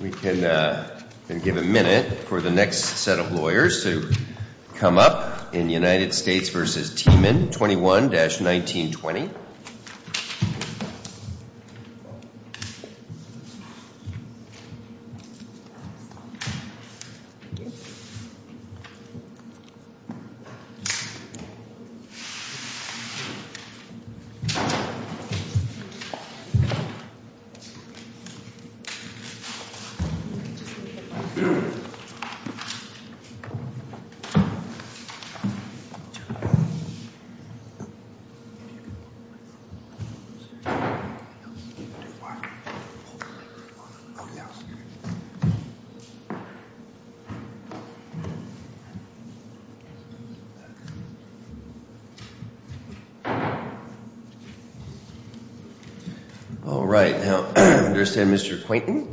We can give a minute for the next set of lawyers to come up in United States v. Teman, 21-1920. All right. Now, I understand, Mr. Quainton,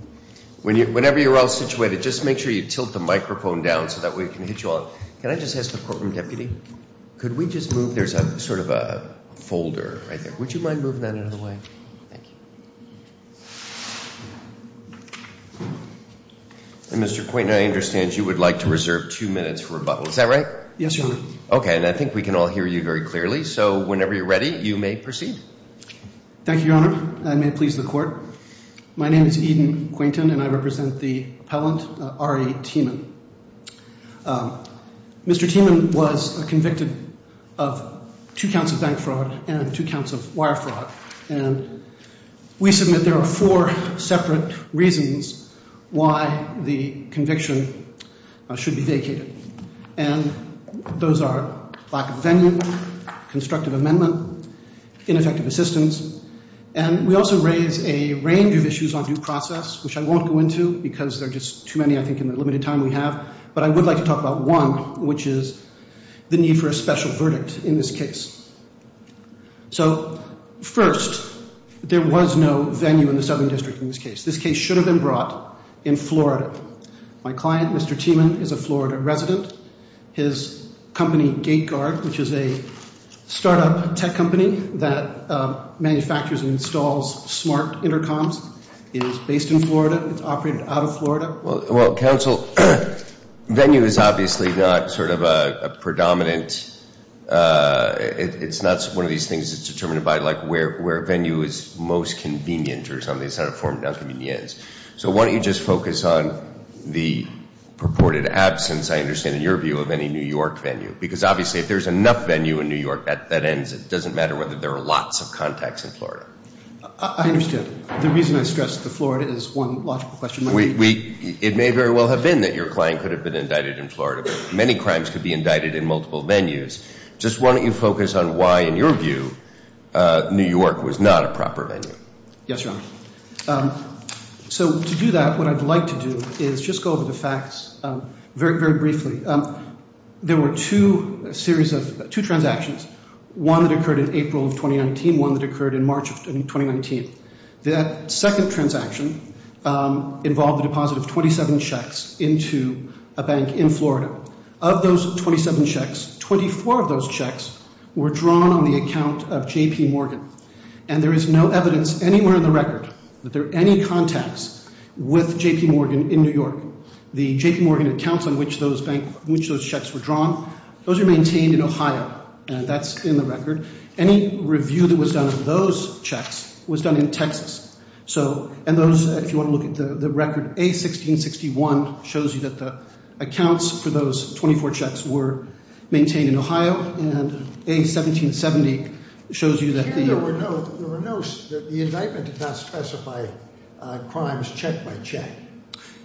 whenever you're all situated, just make sure you tilt the microphone down so that we can hit you all. Can I just ask the courtroom deputy, could we just move there's sort of a folder right there. Would you mind moving that out of the way? Thank you. Mr. Quainton, I understand you would like to reserve two minutes for rebuttal. Is that right? Yes, Your Honor. Okay. And I think we can all hear you very clearly. So whenever you're ready, you may proceed. Thank you, Your Honor. I may please the court. My name is Eden Quainton, and I represent the appellant, R.A. Teman. Mr. Teman was convicted of two counts of bank fraud and two counts of wire fraud. And we submit there are four separate reasons why the conviction should be vacated. And those are lack of venue, constructive amendment, ineffective assistance. And we also raise a range of issues on due process, which I won't go into because there are just too many, I think, in the limited time we have. But I would like to talk about one, which is the need for a special verdict in this case. So first, there was no venue in the Southern District in this case. This case should have been brought in Florida. My client, Mr. Teman, is a Florida resident. His company, GateGuard, which is a startup tech company that manufactures and installs smart intercoms, is based in Florida. It's operated out of Florida. Well, counsel, venue is obviously not sort of a predominant. It's not one of these things that's determined by, like, where venue is most convenient or something. It's not a form of convenience. So why don't you just focus on the purported absence, I understand, in your view, of any New York venue? Because, obviously, if there's enough venue in New York, that ends it. It doesn't matter whether there are lots of contacts in Florida. I understand. The reason I stress the Florida is one logical question. It may very well have been that your client could have been indicted in Florida. Many crimes could be indicted in multiple venues. Just why don't you focus on why, in your view, New York was not a proper venue? Yes, Your Honor. So to do that, what I'd like to do is just go over the facts very, very briefly. There were two transactions, one that occurred in April of 2019, one that occurred in March of 2019. That second transaction involved the deposit of 27 checks into a bank in Florida. Of those 27 checks, 24 of those checks were drawn on the account of J.P. Morgan. And there is no evidence anywhere in the record that there are any contacts with J.P. Morgan in New York. The J.P. Morgan accounts on which those checks were drawn, those are maintained in Ohio. That's in the record. Any review that was done of those checks was done in Texas. So if you want to look at the record, A1661 shows you that the accounts for those 24 checks were maintained in Ohio. And A1770 shows you that the- There were no, the indictment did not specify crimes check by check.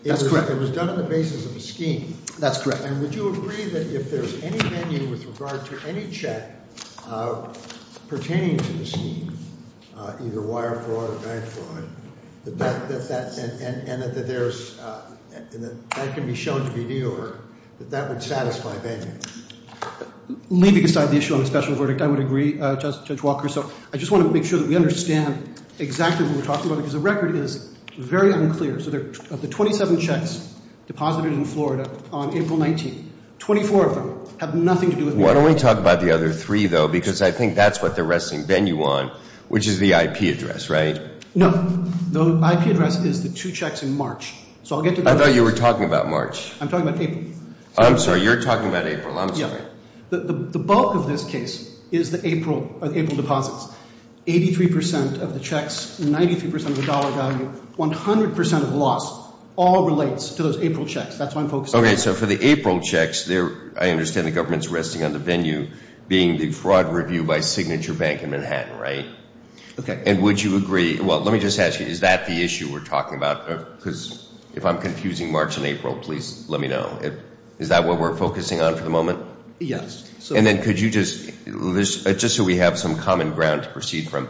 That's correct. It was done on the basis of a scheme. That's correct. And would you agree that if there's any venue with regard to any check pertaining to the scheme, either wire fraud or bank fraud, that that can be shown to be New York, that that would satisfy venue? Leaving aside the issue on a special verdict, I would agree, Judge Walker. So I just want to make sure that we understand exactly what we're talking about because the record is very unclear. So of the 27 checks deposited in Florida on April 19th, 24 of them have nothing to do with New York. Why don't we talk about the other three, though, because I think that's what they're resting venue on, which is the IP address, right? No. The IP address is the two checks in March. So I'll get to that. I thought you were talking about March. I'm talking about April. I'm sorry. You're talking about April. I'm sorry. The bulk of this case is the April deposits. Eighty-three percent of the checks, 93 percent of the dollar value, 100 percent of loss all relates to those April checks. That's what I'm focusing on. Okay. So for the April checks, I understand the government's resting on the venue being the fraud review by Signature Bank in Manhattan, right? Okay. And would you agree? Well, let me just ask you, is that the issue we're talking about? Because if I'm confusing March and April, please let me know. Is that what we're focusing on for the moment? Yes. And then could you just – just so we have some common ground to proceed from,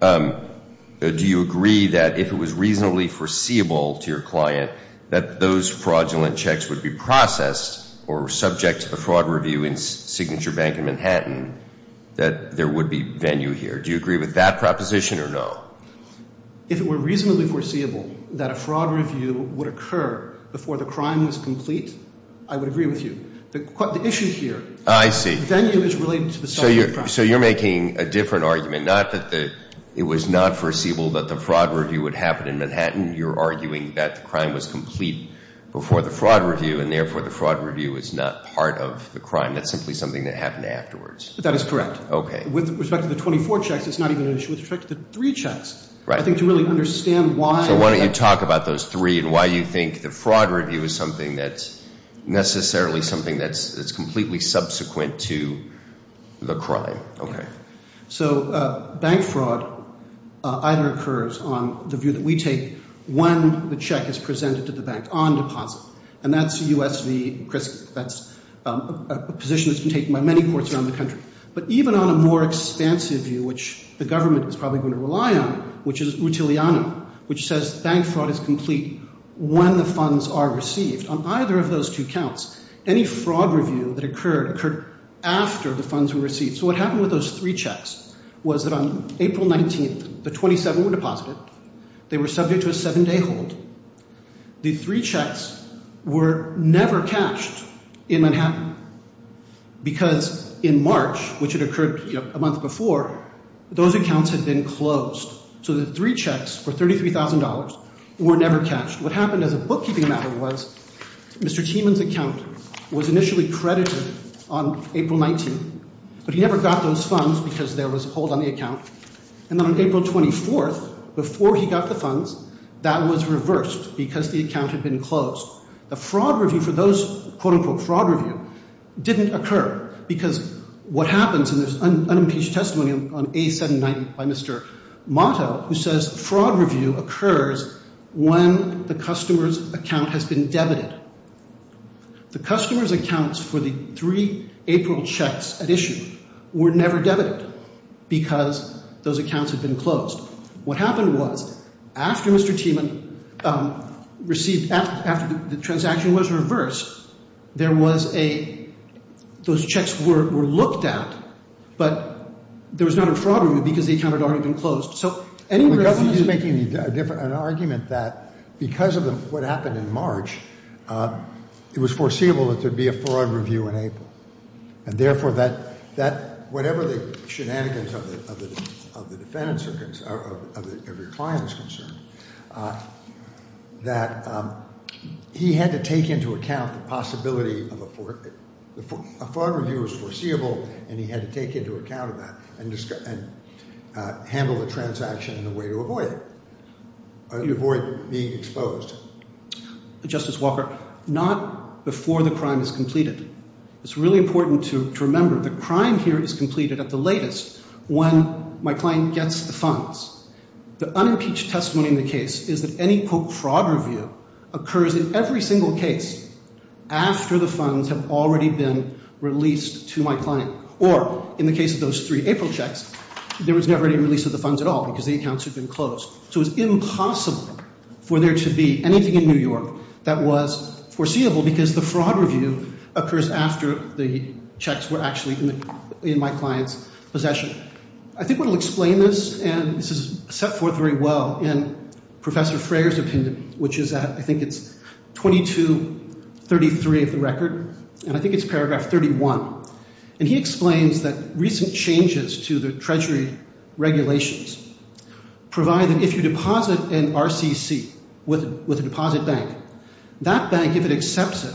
do you agree that if it was reasonably foreseeable to your client that those fraudulent checks would be processed or subject to the fraud review in Signature Bank in Manhattan that there would be venue here? Do you agree with that proposition or no? Well, if it were reasonably foreseeable that a fraud review would occur before the crime was complete, I would agree with you. The issue here – I see. Venue is related to the subject of the crime. So you're making a different argument, not that it was not foreseeable that the fraud review would happen in Manhattan. You're arguing that the crime was complete before the fraud review, and therefore the fraud review is not part of the crime. That's simply something that happened afterwards. That is correct. Okay. And with respect to the 24 checks, it's not even an issue with respect to the three checks. Right. I think to really understand why – So why don't you talk about those three and why you think the fraud review is something that's necessarily something that's completely subsequent to the crime. Okay. So bank fraud either occurs on the view that we take when the check is presented to the bank on deposit. And that's a U.S.C. – that's a position that's been taken by many courts around the country. But even on a more expansive view, which the government is probably going to rely on, which is Utiliano, which says bank fraud is complete when the funds are received. On either of those two counts, any fraud review that occurred occurred after the funds were received. So what happened with those three checks was that on April 19th, the 27 were deposited. They were subject to a seven-day hold. The three checks were never cashed in Manhattan because in March, which had occurred a month before, those accounts had been closed. So the three checks for $33,000 were never cashed. What happened as a bookkeeping matter was Mr. Tiemann's account was initially credited on April 19th. But he never got those funds because there was a hold on the account. And then on April 24th, before he got the funds, that was reversed because the account had been closed. The fraud review for those – quote-unquote fraud review – didn't occur because what happens in this unimpeached testimony on A790 by Mr. Motto, who says fraud review occurs when the customer's account has been debited. The customer's accounts for the three April checks at issue were never debited because those accounts had been closed. What happened was after Mr. Tiemann received – after the transaction was reversed, there was a – those checks were looked at, but there was not a fraud review because the account had already been closed. The government is making an argument that because of what happened in March, it was foreseeable that there would be a fraud review in April. And therefore, that – whatever the shenanigans of the defendant's – of your client's concern, that he had to take into account the possibility of a – a fraud review was foreseeable, and he had to take into account that and handle the transaction in a way to avoid it, to avoid being exposed. Justice Walker, not before the crime is completed. It's really important to remember the crime here is completed at the latest when my client gets the funds. The unimpeached testimony in the case is that any quote-unquote fraud review occurs in every single case after the funds have already been released to my client. Or in the case of those three April checks, there was never any release of the funds at all because the accounts had been closed. So it's impossible for there to be anything in New York that was foreseeable because the fraud review occurs after the checks were actually in my client's possession. I think we'll explain this, and this is set forth very well in Professor Frayer's opinion, which is at – I think it's 2233 of the record, and I think it's paragraph 31. And he explains that recent changes to the Treasury regulations provide that if you deposit an RCC with a deposit bank, that bank, if it accepts it,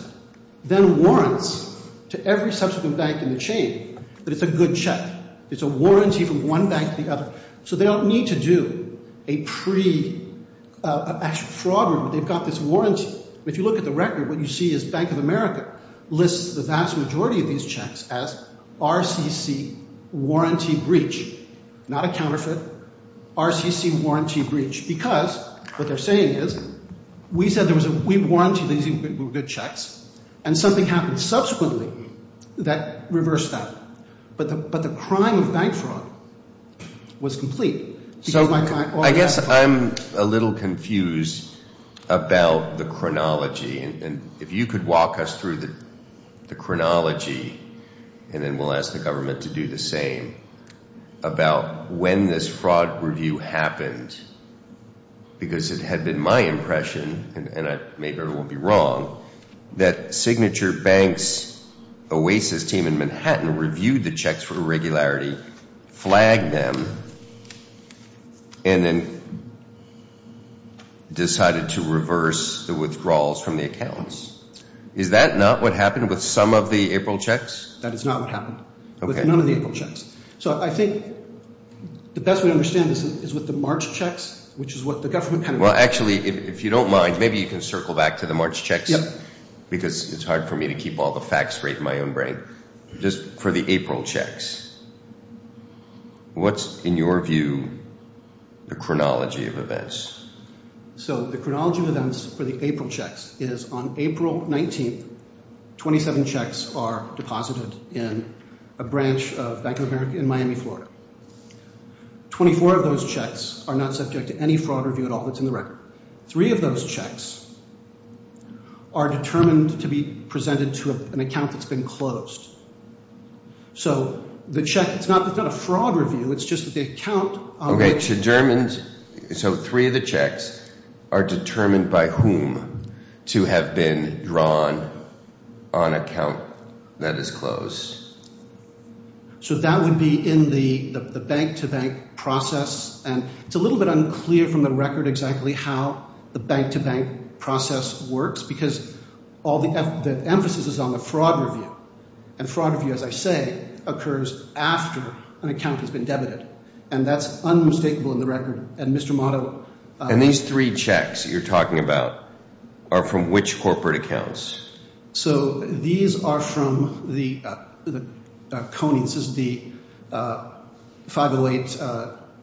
then warrants to every subsequent bank in the chain that it's a good check. It's a warranty from one bank to the other. So they don't need to do a pre-actual fraud review. They've got this warranty. If you look at the record, what you see is Bank of America lists the vast majority of these checks as RCC warranty breach, not a counterfeit, RCC warranty breach, because what they're saying is we said there was a – we warranted these good checks, and something happened subsequently that reversed that. But the crime of bank fraud was complete. So I guess I'm a little confused about the chronology. And if you could walk us through the chronology, and then we'll ask the government to do the same, about when this fraud review happened, because it had been my impression, and maybe I won't be wrong, that Signature Bank's Oasis team in Manhattan reviewed the checks for irregularity, flagged them, and then decided to reverse the withdrawals from the accounts. Is that not what happened with some of the April checks? That is not what happened with none of the April checks. So I think the best way to understand this is with the March checks, which is what the government kind of – Well, actually, if you don't mind, maybe you can circle back to the March checks, because it's hard for me to keep all the facts right in my own brain. Just for the April checks, what's, in your view, the chronology of events? So the chronology of events for the April checks is on April 19th, 27 checks are deposited in a branch of Bank of America in Miami, Florida. Twenty-four of those checks are not subject to any fraud review at all that's in the record. Three of those checks are determined to be presented to an account that's been closed. So the check – it's not a fraud review. It's just that the account – Okay, so three of the checks are determined by whom to have been drawn on an account that is closed. So that would be in the bank-to-bank process. And it's a little bit unclear from the record exactly how the bank-to-bank process works, because all the emphasis is on the fraud review. And fraud review, as I say, occurs after an account has been debited. And that's unmistakable in the record. And Mr. Motto – And these three checks that you're talking about are from which corporate accounts? So these are from the – this is the 508 –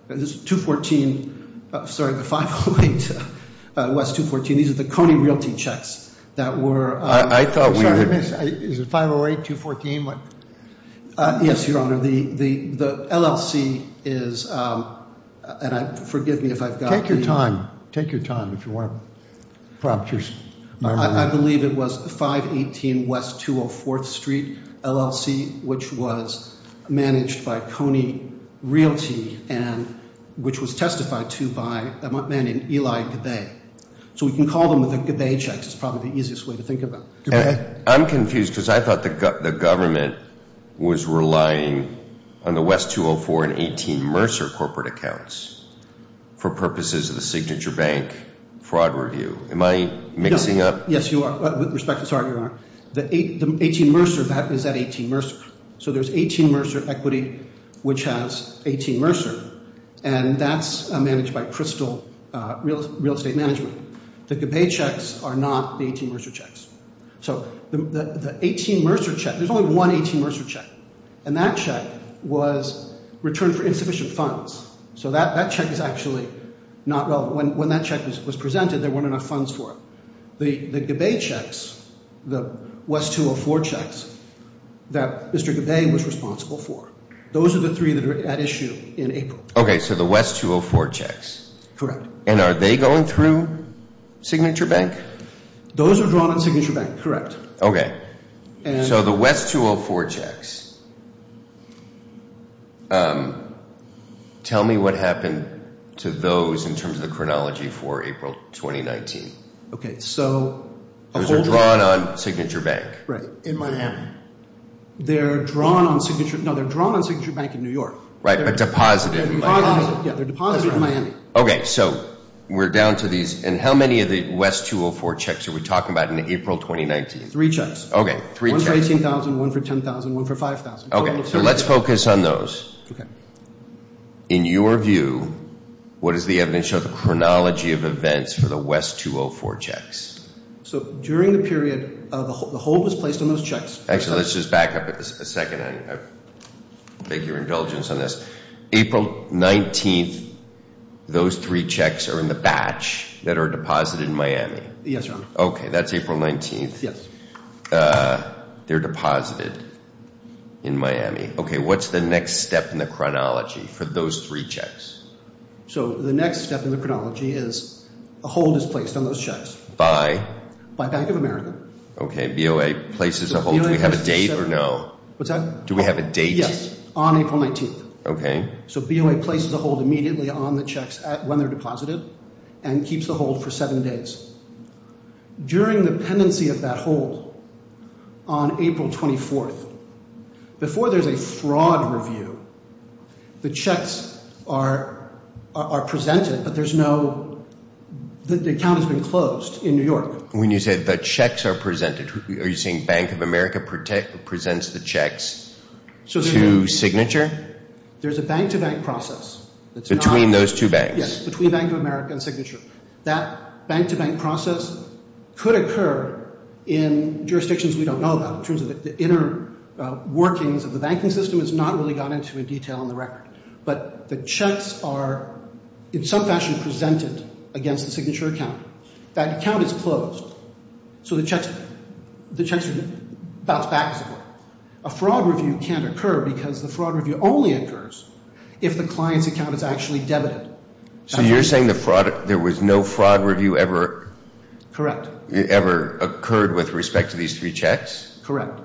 this is 214 – sorry, the 508, West 214. These are the Coney Realty checks that were – I thought we were – Sorry, is it 508, 214? Yes, Your Honor. The LLC is – and forgive me if I've got – Take your time. Take your time if you want to prompt your memory. I believe it was 518 West 204th Street, LLC, which was managed by Coney Realty and – which was testified to by a man named Eli Gabay. So we can call them the Gabay checks. It's probably the easiest way to think of them. I'm confused because I thought the government was relying on the West 204 and 18 Mercer corporate accounts for purposes of the signature bank fraud review. Am I mixing up – Yes, you are. With respect – sorry, Your Honor. The 18 Mercer, that is that 18 Mercer. So there's 18 Mercer equity, which has 18 Mercer, and that's managed by Crystal Real Estate Management. The Gabay checks are not the 18 Mercer checks. So the 18 Mercer check – there's only one 18 Mercer check, and that check was returned for insufficient funds. So that check is actually not relevant. When that check was presented, there weren't enough funds for it. The Gabay checks, the West 204 checks that Mr. Gabay was responsible for, those are the three that are at issue in April. Okay, so the West 204 checks. Correct. And are they going through Signature Bank? Those are drawn at Signature Bank, correct. Okay, so the West 204 checks. Tell me what happened to those in terms of the chronology for April 2019. Okay, so – Those are drawn on Signature Bank. Right, in Miami. They're drawn on Signature – no, they're drawn on Signature Bank in New York. Right, but deposited in Miami. Yeah, they're deposited in Miami. Okay, so we're down to these. And how many of the West 204 checks are we talking about in April 2019? Three checks. One for $18,000, one for $10,000, one for $5,000. Okay, so let's focus on those. Okay. In your view, what does the evidence show, the chronology of events for the West 204 checks? So during the period, the hold was placed on those checks. Actually, let's just back up a second. I beg your indulgence on this. April 19th, those three checks are in the batch that are deposited in Miami. Yes, Your Honor. Okay, that's April 19th. Yes. They're deposited in Miami. Okay, what's the next step in the chronology for those three checks? So the next step in the chronology is a hold is placed on those checks. By? By Bank of America. Okay, BOA places a hold. Do we have a date or no? What's that? Do we have a date? Yes, on April 19th. Okay. So BOA places a hold immediately on the checks when they're deposited and keeps the hold for seven days. During the pendency of that hold on April 24th, before there's a fraud review, the checks are presented, but there's no—the account has been closed in New York. When you say the checks are presented, are you saying Bank of America presents the checks to Signature? There's a bank-to-bank process that's not— Between those two banks. Yes, between Bank of America and Signature. That bank-to-bank process could occur in jurisdictions we don't know about, in terms of the inner workings of the banking system. It's not really gone into detail on the record. But the checks are, in some fashion, presented against the Signature account. That account is closed. So the checks—the checks are bounced back. A fraud review can't occur because the fraud review only occurs if the client's account is actually debited. So you're saying the fraud—there was no fraud review ever— Correct. —ever occurred with respect to these three checks? Correct.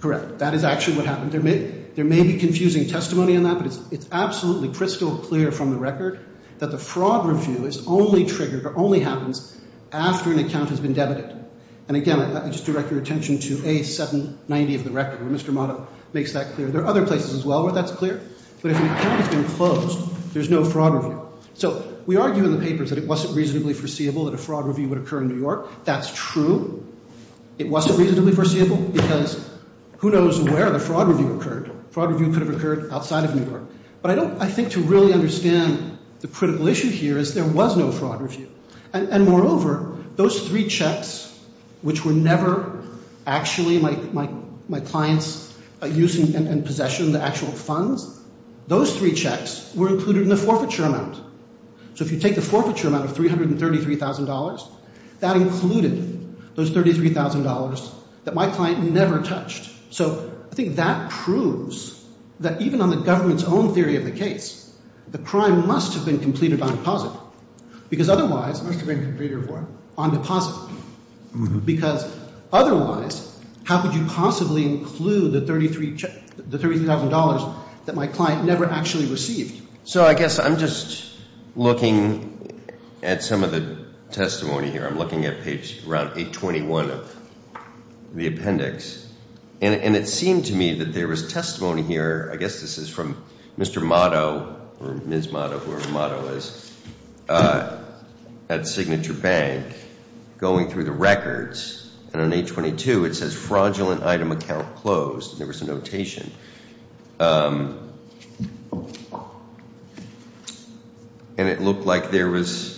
Correct. That is actually what happened. There may be confusing testimony on that, but it's absolutely crystal clear from the record that the fraud review is only triggered or only happens after an account has been debited. And again, let me just direct your attention to A790 of the record, where Mr. Motto makes that clear. There are other places as well where that's clear. But if an account has been closed, there's no fraud review. So we argue in the papers that it wasn't reasonably foreseeable that a fraud review would occur in New York. That's true. It wasn't reasonably foreseeable because who knows where the fraud review occurred. Fraud review could have occurred outside of New York. But I don't—I think to really understand the critical issue here is there was no fraud review. And moreover, those three checks, which were never actually my client's use and possession of the actual funds, those three checks were included in the forfeiture amount. So if you take the forfeiture amount of $333,000, that included those $33,000 that my client never touched. So I think that proves that even on the government's own theory of the case, the crime must have been completed on deposit because otherwise—must have been completed on deposit. Because otherwise, how could you possibly include the $33,000 that my client never actually received? So I guess I'm just looking at some of the testimony here. I'm looking at page—around 821 of the appendix. And it seemed to me that there was testimony here. I guess this is from Mr. Motto or Ms. Motto, whoever Motto is, at Signature Bank, going through the records. And on 822, it says fraudulent item account closed. There was a notation. And it looked like there was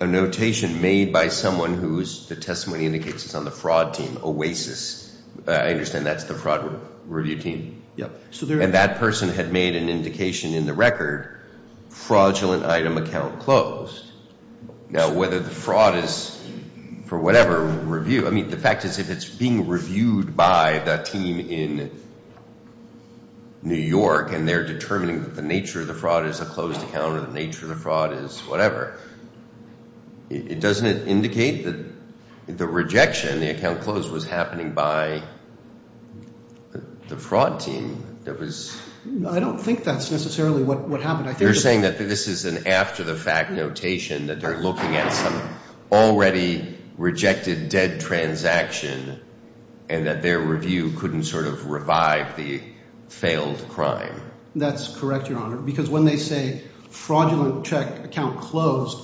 a notation made by someone whose—the testimony indicates it's on the fraud team, Oasis. I understand that's the fraud review team. Yep. And that person had made an indication in the record, fraudulent item account closed. Now, whether the fraud is, for whatever, review—I mean, the fact is if it's being reviewed by the team in New York and they're determining that the nature of the fraud is a closed account or the nature of the fraud is whatever, doesn't it indicate that the rejection, the account closed, was happening by the fraud team that was— I don't think that's necessarily what happened. You're saying that this is an after-the-fact notation, that they're looking at some already rejected dead transaction and that their review couldn't sort of revive the failed crime. That's correct, Your Honor. Because when they say fraudulent check account closed,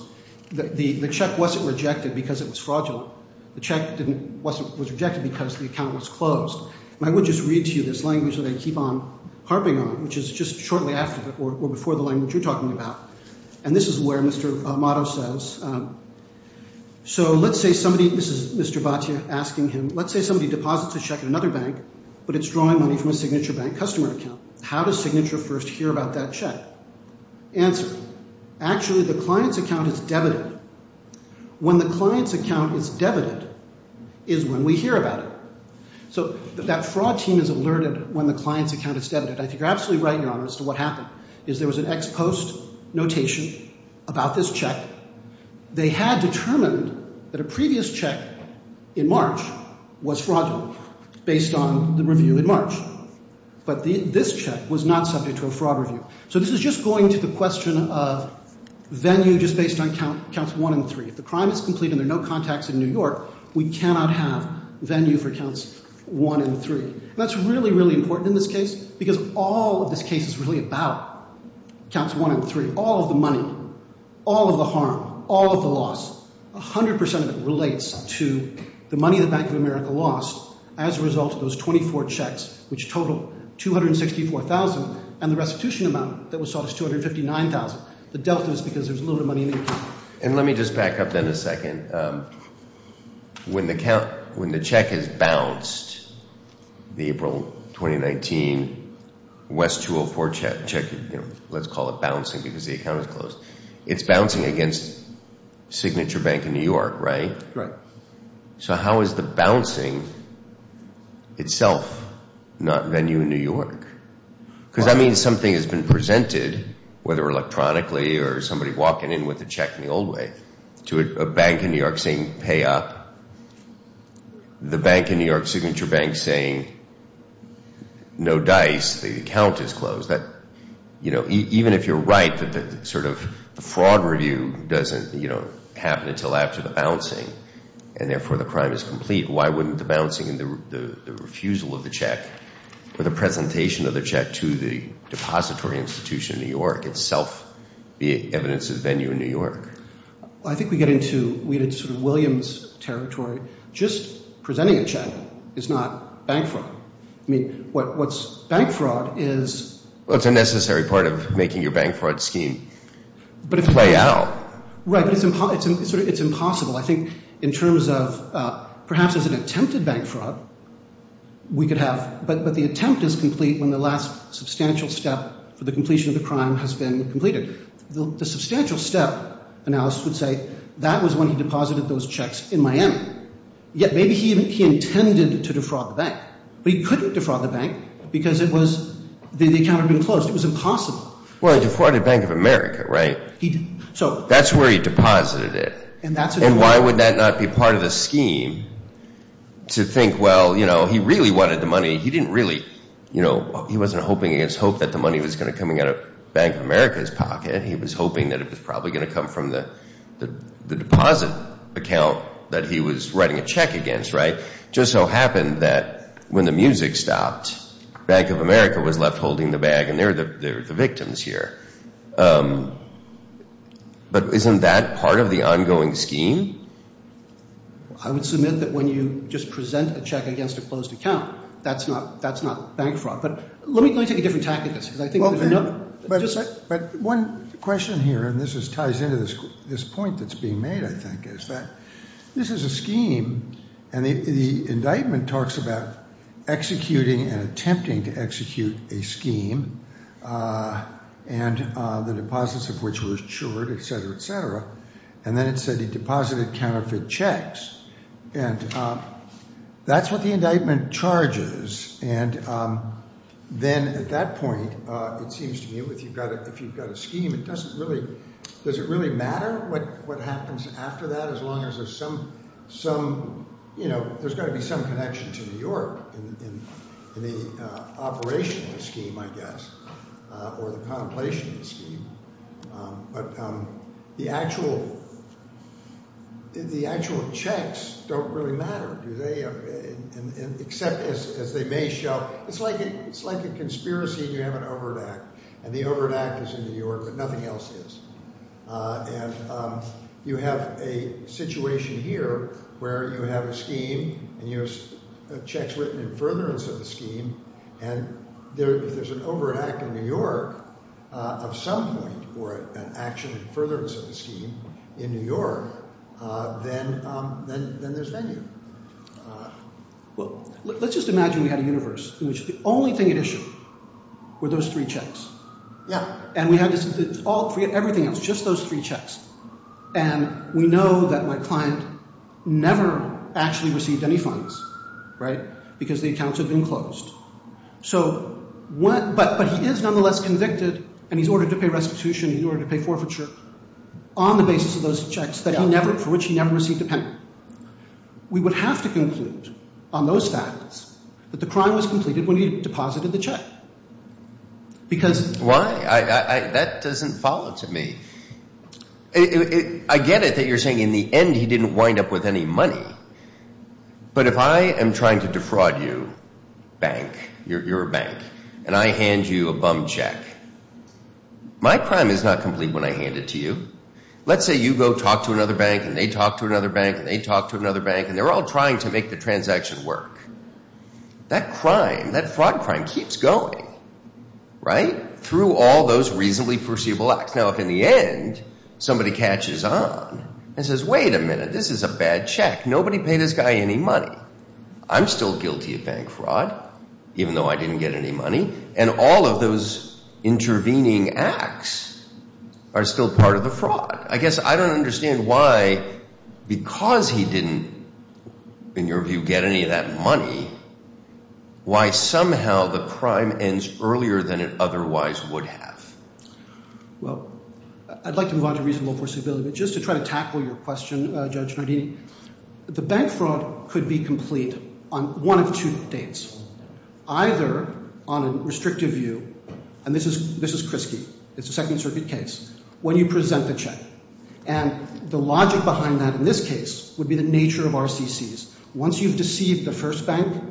the check wasn't rejected because it was fraudulent. The check didn't—wasn't—was rejected because the account was closed. And I would just read to you this language that I keep on harping on, which is just shortly after or before the language you're talking about. And this is where Mr. Amato says, so let's say somebody—this is Mr. Batia asking him— let's say somebody deposits a check in another bank, but it's drawing money from a signature bank customer account. How does Signature first hear about that check? Answer, actually the client's account is debited. When the client's account is debited is when we hear about it. So that fraud team is alerted when the client's account is debited. I think you're absolutely right, Your Honor, as to what happened, is there was an ex post notation about this check. They had determined that a previous check in March was fraudulent based on the review in March. But this check was not subject to a fraud review. So this is just going to the question of venue just based on counts 1 and 3. If the crime is complete and there are no contacts in New York, we cannot have venue for counts 1 and 3. And that's really, really important in this case because all of this case is really about counts 1 and 3, all of the money, all of the harm, all of the loss. 100% of it relates to the money the Bank of America lost as a result of those 24 checks, which totaled $264,000 and the restitution amount that was sought was $259,000. The delta is because there's a little bit of money in the account. And let me just back up then a second. When the check is bounced, the April 2019 West 204 check, let's call it bouncing because the account is closed, it's bouncing against Signature Bank of New York, right? Right. So how is the bouncing itself not venue in New York? Because that means something has been presented, whether electronically or somebody walking in with a check in the old way, to a bank in New York saying pay up, the bank in New York, Signature Bank, saying no dice, the account is closed. Even if you're right that the sort of fraud review doesn't happen until after the bouncing and therefore the crime is complete, why wouldn't the bouncing and the refusal of the check or the presentation of the check to the depository institution in New York itself be evidence of venue in New York? I think we get into Williams territory. Just presenting a check is not bank fraud. I mean, what's bank fraud is – Well, it's a necessary part of making your bank fraud scheme play out. Right, but it's impossible. I think in terms of perhaps as an attempted bank fraud, we could have – but the attempt is complete when the last substantial step for the completion of the crime has been completed. The substantial step analysis would say that was when he deposited those checks in Miami. Yet maybe he intended to defraud the bank. But he couldn't defraud the bank because it was – the account had been closed. It was impossible. Well, he defrauded Bank of America, right? He did. That's where he deposited it. And why would that not be part of the scheme to think, well, he really wanted the money. He didn't really – he wasn't hoping against hope that the money was going to come out of Bank of America's pocket. He was hoping that it was probably going to come from the deposit account that he was writing a check against, right? It just so happened that when the music stopped, Bank of America was left holding the bag, and they were the victims here. But isn't that part of the ongoing scheme? I would submit that when you just present a check against a closed account, that's not bank fraud. But let me take a different tactic. But one question here, and this ties into this point that's being made, I think, is that this is a scheme, and the indictment talks about executing and attempting to execute a scheme and the deposits of which were assured, et cetera, et cetera. And then it said he deposited counterfeit checks. And that's what the indictment charges. And then at that point, it seems to me if you've got a scheme, it doesn't really – does it really matter what happens after that as long as there's some – there's got to be some connection to New York in the operational scheme, I guess, or the contemplation scheme. But the actual checks don't really matter. Except as they may show, it's like a conspiracy and you have an overt act. And the overt act is in New York, but nothing else is. And you have a situation here where you have a scheme and you have checks written in furtherance of the scheme, and if there's an overt act in New York of some point or an action in furtherance of the scheme in New York, then there's venue. Well, let's just imagine we had a universe in which the only thing at issue were those three checks. Yeah. And we had this – it's all three – everything else, just those three checks. And we know that my client never actually received any funds, right, because the accounts have been closed. So what – but he is nonetheless convicted and he's ordered to pay restitution, he's ordered to pay forfeiture on the basis of those checks for which he never received a penalty. We would have to conclude on those facts that the crime was completed when he deposited the check because – Why? That doesn't follow to me. I get it that you're saying in the end he didn't wind up with any money, but if I am trying to defraud you, bank, your bank, and I hand you a bum check, my crime is not complete when I hand it to you. Let's say you go talk to another bank and they talk to another bank and they talk to another bank and they're all trying to make the transaction work. That crime, that fraud crime keeps going, right, through all those reasonably perceivable acts. Now, if in the end somebody catches on and says, wait a minute, this is a bad check. Nobody paid this guy any money. I'm still guilty of bank fraud, even though I didn't get any money. And all of those intervening acts are still part of the fraud. I guess I don't understand why, because he didn't, in your view, get any of that money, why somehow the crime ends earlier than it otherwise would have. Well, I'd like to move on to reasonable forcibility, but just to try to tackle your question, Judge Nardini, the bank fraud could be complete on one of two dates. Either on a restrictive view, and this is Krinsky, it's a Second Circuit case, when you present the check. And the logic behind that in this case would be the nature of RCCs. Once you've deceived the first bank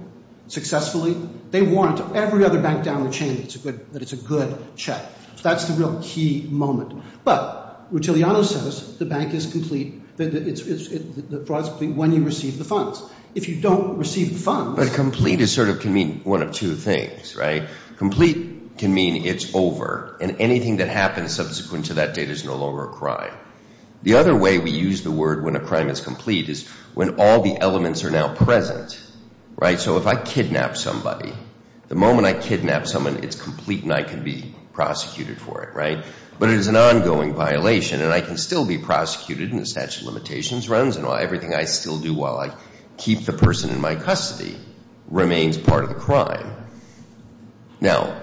successfully, they warrant every other bank down the chain that it's a good check. So that's the real key moment. But Rutiliano says the bank is complete when you receive the funds. If you don't receive the funds- But complete can mean one of two things. Complete can mean it's over, and anything that happens subsequent to that date is no longer a crime. The other way we use the word when a crime is complete is when all the elements are now present. So if I kidnap somebody, the moment I kidnap someone, it's complete and I can be prosecuted for it. But it is an ongoing violation, and I can still be prosecuted, and the statute of limitations runs, and everything I still do while I keep the person in my custody remains part of the crime. Now,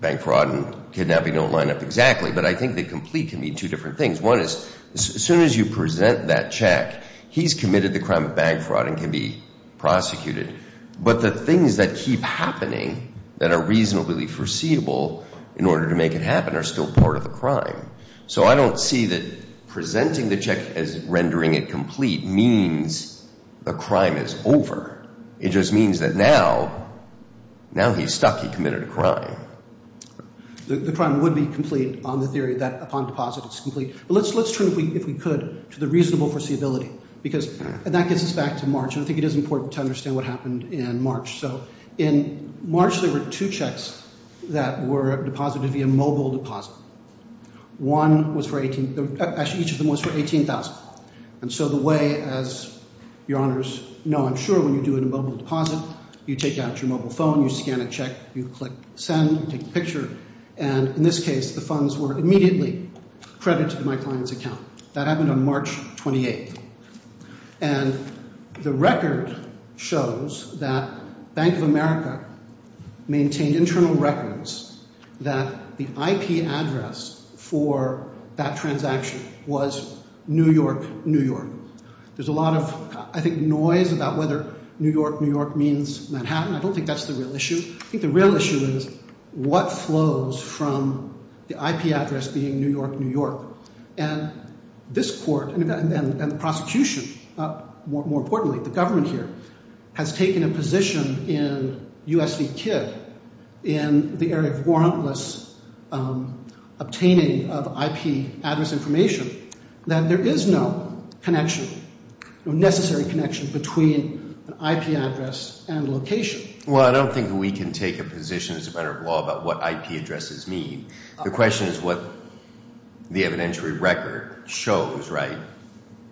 bank fraud and kidnapping don't line up exactly, but I think that complete can mean two different things. One is as soon as you present that check, he's committed the crime of bank fraud and can be prosecuted. But the things that keep happening that are reasonably foreseeable in order to make it happen are still part of the crime. So I don't see that presenting the check as rendering it complete means the crime is over. It just means that now he's stuck. He committed a crime. The crime would be complete on the theory that upon deposit it's complete. But let's turn, if we could, to the reasonable foreseeability, because that gets us back to March. And I think it is important to understand what happened in March. So in March there were two checks that were deposited via mobile deposit. One was for 18—actually, each of them was for $18,000. And so the way, as your honors know, I'm sure, when you do a mobile deposit, you take out your mobile phone, you scan a check, you click send, take a picture. And in this case, the funds were immediately credited to my client's account. That happened on March 28th. And the record shows that Bank of America maintained internal records that the IP address for that transaction was New York, New York. There's a lot of, I think, noise about whether New York, New York means Manhattan. I don't think that's the real issue. I think the real issue is what flows from the IP address being New York, New York. And this court and the prosecution, more importantly, the government here, has taken a position in U.S. v. Kidd in the area of warrantless obtaining of IP address information that there is no connection, no necessary connection between an IP address and location. Well, I don't think we can take a position as a matter of law about what IP addresses mean. The question is what the evidentiary record shows, right?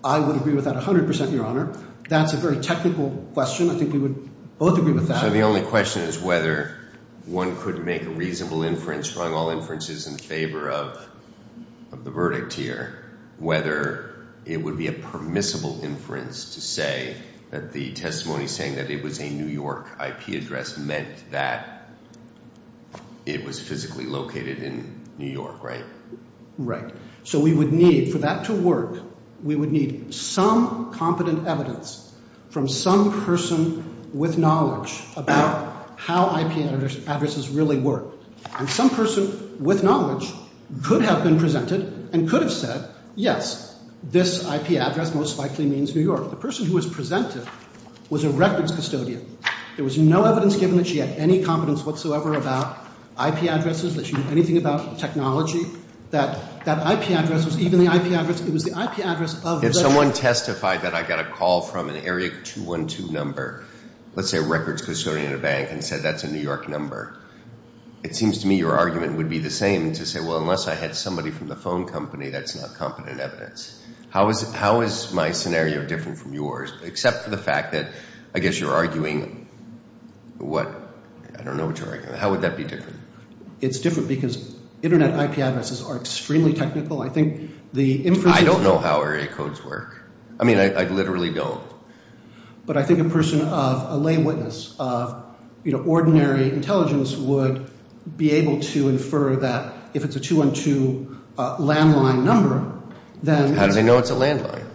I would agree with that 100%, Your Honor. That's a very technical question. I think we would both agree with that. So the only question is whether one could make a reasonable inference, drawing all inferences in favor of the verdict here, whether it would be a permissible inference to say that the testimony saying that it was a New York IP address meant that it was physically located in New York, right? Right. So we would need, for that to work, we would need some competent evidence from some person with knowledge about how IP addresses really work. And some person with knowledge could have been presented and could have said, yes, this IP address most likely means New York. The person who was presented was a records custodian. There was no evidence given that she had any competence whatsoever about IP addresses, that she knew anything about technology, that that IP address was even the IP address. It was the IP address of the… If someone testified that I got a call from an area 212 number, let's say a records custodian at a bank, and said that's a New York number, it seems to me your argument would be the same to say, well, unless I had somebody from the phone company, that's not competent evidence. How is my scenario different from yours, except for the fact that I guess you're arguing, what, I don't know what you're arguing, how would that be different? It's different because internet IP addresses are extremely technical. I think the… I don't know how area codes work. I mean, I literally don't. But I think a person of a lay witness of, you know, ordinary intelligence would be able to infer that if it's a 212 landline number, then… How do they know it's a landline?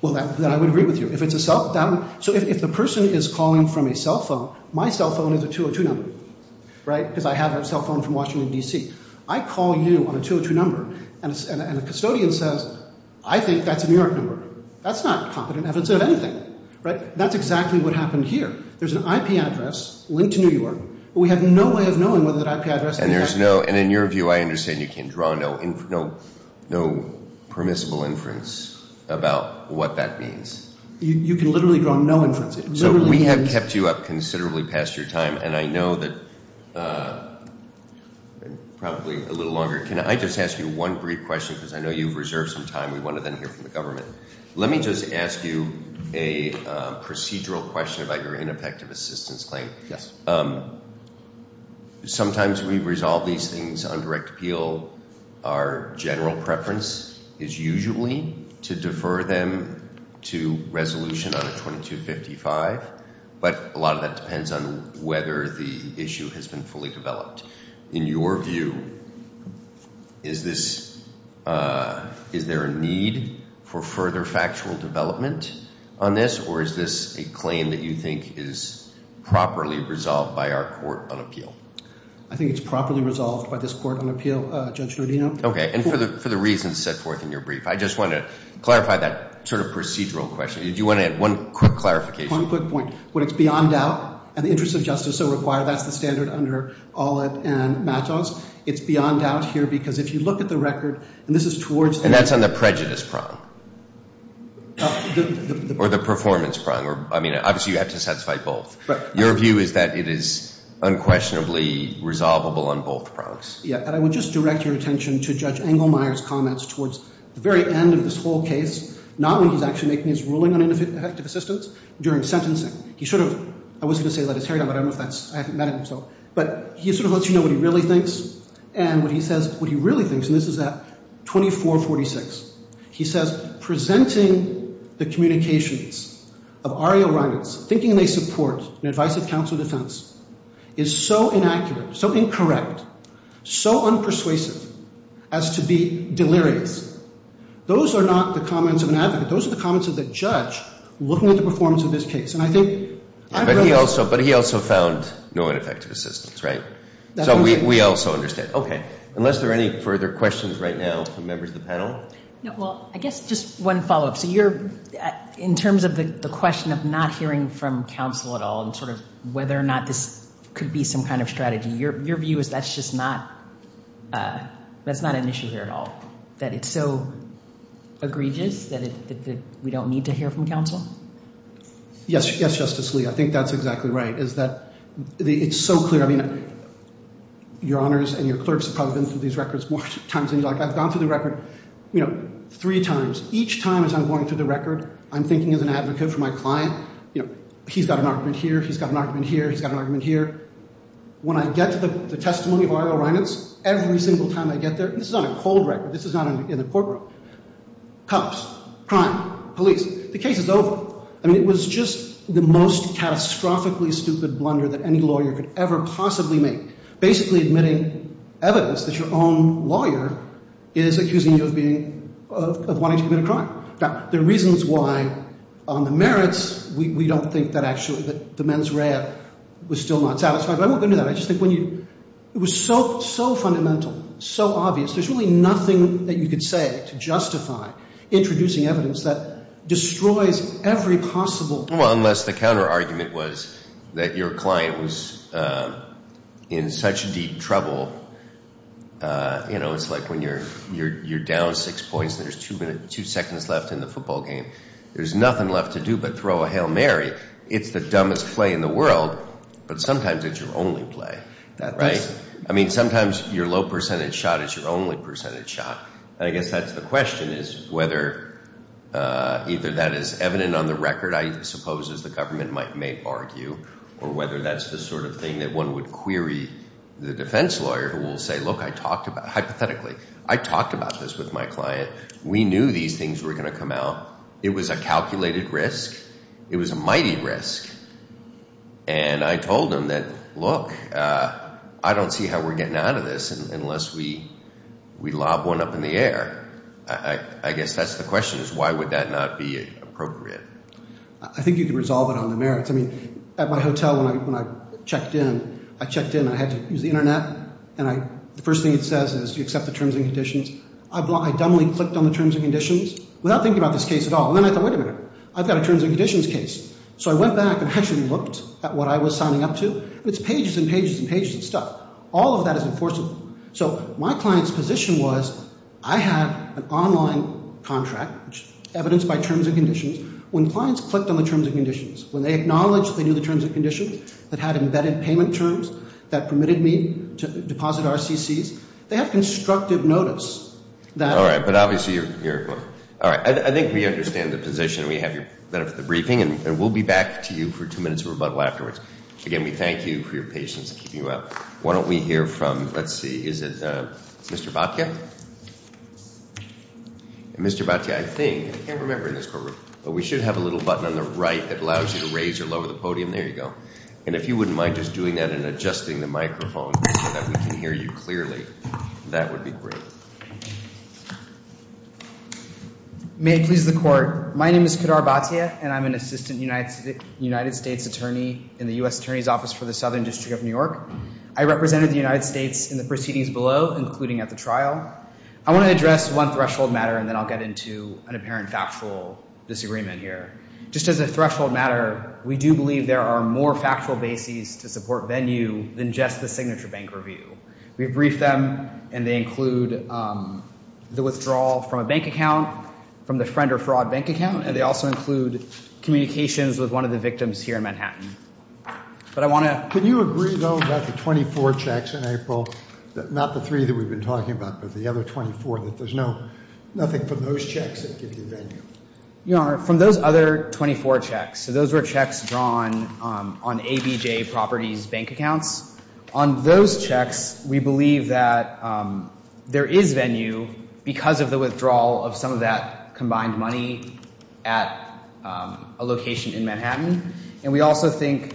Well, then I would agree with you. If it's a… So if the person is calling from a cell phone, my cell phone is a 202 number, right, because I have a cell phone from Washington, D.C. I call you on a 202 number, and a custodian says, I think that's a New York number. That's not competent evidence of anything, right? That's exactly what happened here. There's an IP address linked to New York, but we have no way of knowing whether that IP address… And there's no… And in your view, I understand you can't draw no permissible inference about what that means. You can literally draw no inference. It literally means… Probably a little longer. Can I just ask you one brief question, because I know you've reserved some time. We want to then hear from the government. Let me just ask you a procedural question about your ineffective assistance claim. Yes. Sometimes we resolve these things on direct appeal. Our general preference is usually to defer them to resolution on a 2255. But a lot of that depends on whether the issue has been fully developed. In your view, is this… Is there a need for further factual development on this, or is this a claim that you think is properly resolved by our court on appeal? I think it's properly resolved by this court on appeal, Judge Rodino. Okay. And for the reasons set forth in your brief, I just want to clarify that sort of procedural question. Do you want to add one quick clarification? One quick point. When it's beyond doubt, and the interests of justice so require, that's the standard under Allitt and Matos. It's beyond doubt here, because if you look at the record, and this is towards… And that's on the prejudice prong. Or the performance prong. I mean, obviously, you have to satisfy both. Your view is that it is unquestionably resolvable on both prongs. Yeah. And I would just direct your attention to Judge Engelmeyer's comments towards the very end of this whole case, not when he's actually making his ruling on ineffective assistance, during sentencing. He sort of… I was going to say let his hair down, but I don't know if that's… I haven't met him, so… But he sort of lets you know what he really thinks. And when he says what he really thinks, and this is at 2446, he says, presenting the communications of R.A. O'Reilly, thinking they support an advice of counsel and defense, is so inaccurate, so incorrect, so unpersuasive, as to be delirious. Those are not the comments of an advocate. Those are the comments of the judge looking at the performance of this case. And I think… But he also found no ineffective assistance, right? So we also understand. Okay. Unless there are any further questions right now from members of the panel? No. Well, I guess just one follow-up. So you're… In terms of the question of not hearing from counsel at all, and sort of whether or not this could be some kind of strategy, your view is that's just not an issue here at all, that it's so egregious that we don't need to hear from counsel? Yes, Justice Lee. I think that's exactly right, is that it's so clear. I mean, Your Honors and your clerks have probably been through these records more times than you like. I've gone through the record, you know, three times. Each time as I'm going through the record, I'm thinking as an advocate for my client, you know, he's got an argument here, he's got an argument here, he's got an argument here. When I get to the testimony of Arlo Reinitz, every single time I get there, this is on a cold record, this is not in the courtroom, cops, crime, police, the case is over. I mean, it was just the most catastrophically stupid blunder that any lawyer could ever possibly make, basically admitting evidence that your own lawyer is accusing you of wanting to commit a crime. Now, there are reasons why on the merits we don't think that actually the mens rea was still not satisfied, but I won't go into that. I just think when you – it was so fundamental, so obvious, there's really nothing that you could say to justify introducing evidence that destroys every possible – Well, unless the counterargument was that your client was in such deep trouble, you know, it's like when you're down six points and there's two seconds left in the football game. There's nothing left to do but throw a Hail Mary. It's the dumbest play in the world, but sometimes it's your only play, right? I mean, sometimes your low percentage shot is your only percentage shot. And I guess that's the question, is whether either that is evident on the record, I suppose, as the government may argue, or whether that's the sort of thing that one would query the defense lawyer who will say, look, I talked about – hypothetically, I talked about this with my client. We knew these things were going to come out. It was a calculated risk. It was a mighty risk. And I told him that, look, I don't see how we're getting out of this unless we lob one up in the air. I guess that's the question, is why would that not be appropriate? I think you could resolve it on the merits. I mean, at my hotel when I checked in, I checked in and I had to use the internet and the first thing it says is you accept the terms and conditions. I dumbly clicked on the terms and conditions without thinking about this case at all. And then I thought, wait a minute, I've got a terms and conditions case. So I went back and actually looked at what I was signing up to. It's pages and pages and pages of stuff. All of that is enforceable. So my client's position was I had an online contract evidenced by terms and conditions. When clients clicked on the terms and conditions, when they acknowledged they knew the terms and conditions, that had embedded payment terms that permitted me to deposit RCCs, they have constructive notice. All right, but obviously you're, all right, I think we understand the position. We have your benefit of the briefing and we'll be back to you for two minutes of rebuttal afterwards. Again, we thank you for your patience in keeping you up. Why don't we hear from, let's see, is it Mr. Batya? Mr. Batya, I think, I can't remember in this courtroom, but we should have a little button on the right that allows you to raise or lower the podium. There you go. And if you wouldn't mind just doing that and adjusting the microphone so that we can hear you clearly, that would be great. May it please the Court, my name is Kadar Batya, and I'm an Assistant United States Attorney in the U.S. Attorney's Office for the Southern District of New York. I represented the United States in the proceedings below, including at the trial. I want to address one threshold matter and then I'll get into an apparent factual disagreement here. Just as a threshold matter, we do believe there are more factual bases to support Venue than just the signature bank review. We've briefed them and they include the withdrawal from a bank account, from the friend or fraud bank account, and they also include communications with one of the victims here in Manhattan. But I want to – not the three that we've been talking about, but the other 24, that there's nothing from those checks that give you Venue. Your Honor, from those other 24 checks, so those were checks drawn on ABJ Properties' bank accounts. On those checks, we believe that there is Venue because of the withdrawal of some of that combined money at a location in Manhattan. And we also think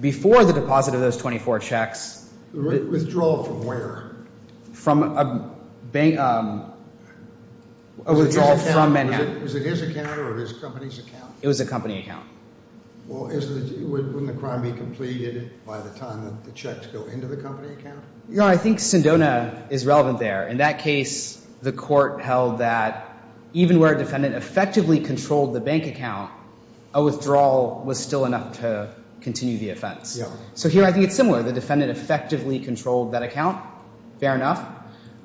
before the deposit of those 24 checks – Withdrawal from where? From a bank – a withdrawal from Manhattan. Was it his account or his company's account? It was a company account. Well, wouldn't the crime be completed by the time that the checks go into the company account? Your Honor, I think Sendona is relevant there. In that case, the court held that even where a defendant effectively controlled the bank account, a withdrawal was still enough to continue the offense. So here I think it's similar. The defendant effectively controlled that account. Fair enough.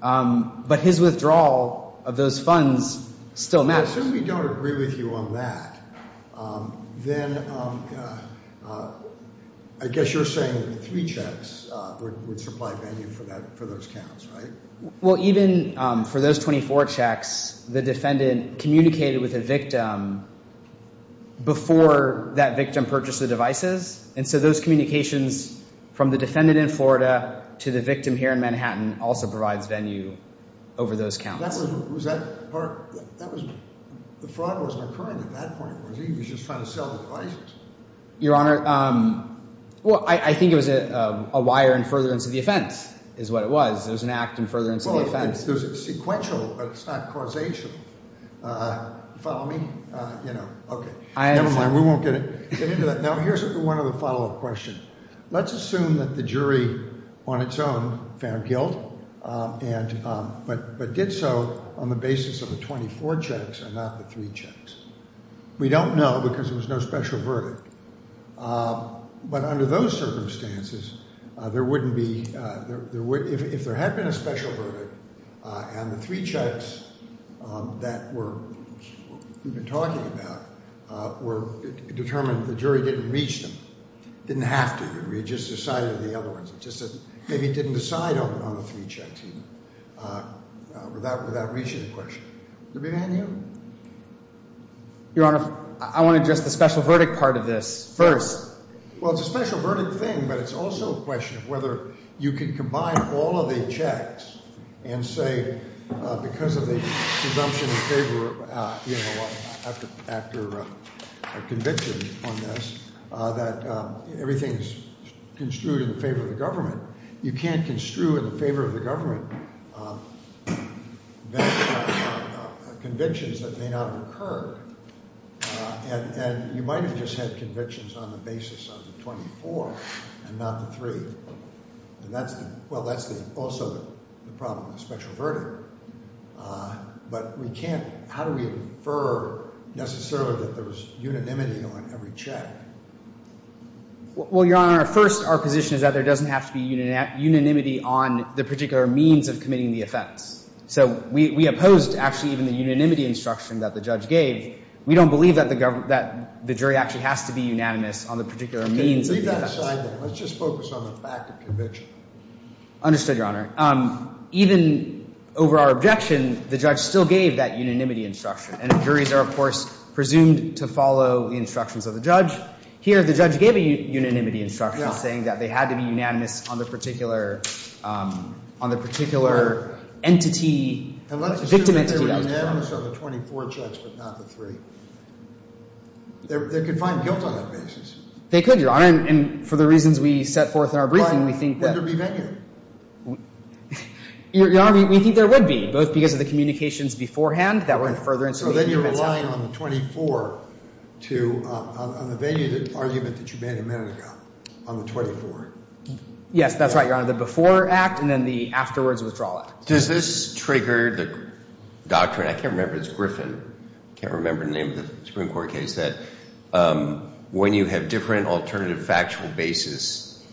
But his withdrawal of those funds still matters. Well, since we don't agree with you on that, then I guess you're saying that the three checks would supply Venue for those counts, right? Well, even for those 24 checks, the defendant communicated with the victim before that victim purchased the devices. And so those communications from the defendant in Florida to the victim here in Manhattan also provides Venue over those counts. Was that part – the fraud wasn't occurring at that point. Was he just trying to sell the devices? Your Honor, well, I think it was a wire and furtherance of the offense is what it was. It was an act and furtherance of the offense. Well, it's sequential, but it's not causational. Follow me? You know, okay. Never mind. We won't get into that. No, here's one other follow-up question. Let's assume that the jury on its own found guilt but did so on the basis of the 24 checks and not the three checks. We don't know because there was no special verdict. But under those circumstances, there wouldn't be – if there had been a special verdict and the three checks that were – we've been talking about were determined, the jury didn't reach them, didn't have to. They just decided on the other ones. It's just that maybe it didn't decide on the three checks even without reaching the question. Would there be a man here? Your Honor, I want to address the special verdict part of this first. Well, it's a special verdict thing, but it's also a question of whether you can combine all of the checks and say because of the presumption of favor after a conviction on this that everything is construed in favor of the government. You can't construe in favor of the government convictions that may not have occurred. And you might have just had convictions on the basis of the 24 and not the three. And that's the – well, that's also the problem, the special verdict. But we can't – how do we infer necessarily that there was unanimity on every check? Well, Your Honor, first our position is that there doesn't have to be unanimity on the particular means of committing the offense. So we opposed actually even the unanimity instruction that the judge gave. We don't believe that the jury actually has to be unanimous on the particular means of the offense. Leave that aside then. Let's just focus on the fact of conviction. Understood, Your Honor. Even over our objection, the judge still gave that unanimity instruction. And the juries are, of course, presumed to follow the instructions of the judge. Here the judge gave a unanimity instruction saying that they had to be unanimous on the particular – on the particular entity – victim entity. And let's assume that they were unanimous on the 24 checks but not the three. They could find guilt on that basis. They could, Your Honor. And for the reasons we set forth in our briefing, we think that – Would there be venue? Your Honor, we think there would be. Both because of the communications beforehand that went further into the – So then you're relying on the 24 to – on the venue argument that you made a minute ago on the 24. Yes, that's right, Your Honor. The before act and then the afterwards withdrawal act. Does this trigger the doctrine – I can't remember. It's Griffin. I can't remember the name of the Supreme Court case. When you have different alternative factual basis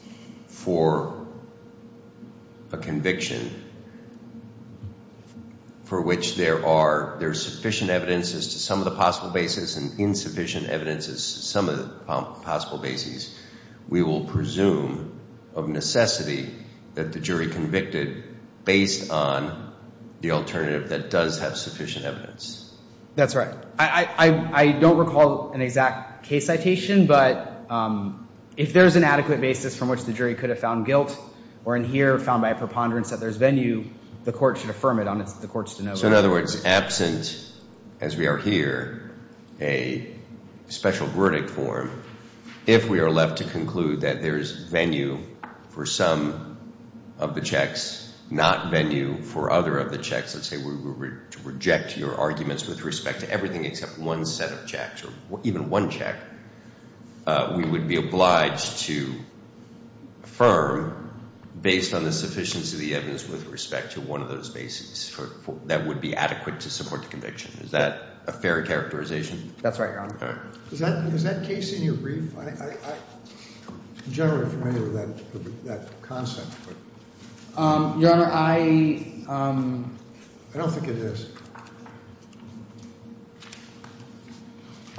for a conviction for which there are sufficient evidences to some of the possible basis and insufficient evidences to some of the possible basis, we will presume of necessity that the jury convicted based on the alternative that does have sufficient evidence. That's right. I don't recall an exact case citation, but if there's an adequate basis from which the jury could have found guilt or in here found by a preponderance that there's venue, the court should affirm it on the court's – So in other words, absent, as we are here, a special verdict form, if we are left to conclude that there's venue for some of the checks, not venue for other of the checks, let's say we reject your arguments with respect to everything except one set of checks or even one check, we would be obliged to affirm based on the sufficiency of the evidence with respect to one of those basis that would be adequate to support the conviction. Is that a fair characterization? That's right, Your Honor. Is that case in your brief? I'm generally familiar with that concept. Your Honor, I – I don't think it is.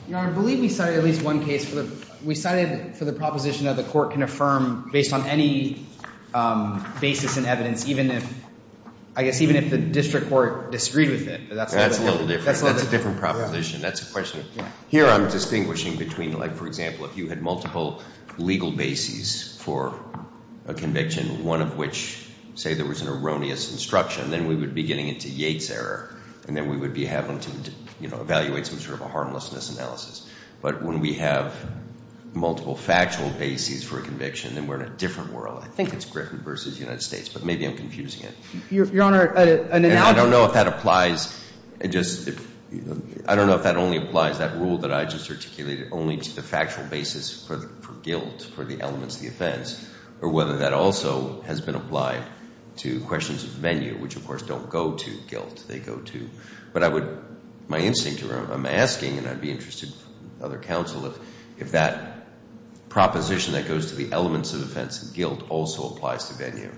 Your Honor, I believe we cited at least one case. We cited for the proposition that the court can affirm based on any basis in evidence, I guess even if the district court disagreed with it. That's a little different. That's a different proposition. That's a question. Here I'm distinguishing between like, for example, if you had multiple legal bases for a conviction, one of which say there was an erroneous instruction, then we would be getting into Yates' error, and then we would be having to evaluate some sort of a harmlessness analysis. But when we have multiple factual bases for a conviction, then we're in a different world. I think it's Griffin versus United States, but maybe I'm confusing it. Your Honor, an analogy – I don't know if that applies – I don't know if that only applies, that rule that I just articulated, only to the factual basis for guilt, for the elements of the offense, or whether that also has been applied to questions of venue, which, of course, don't go to guilt. They go to – But I would – My instinct here, I'm asking, and I'd be interested for other counsel, if that proposition that goes to the elements of offense and guilt also applies to venue.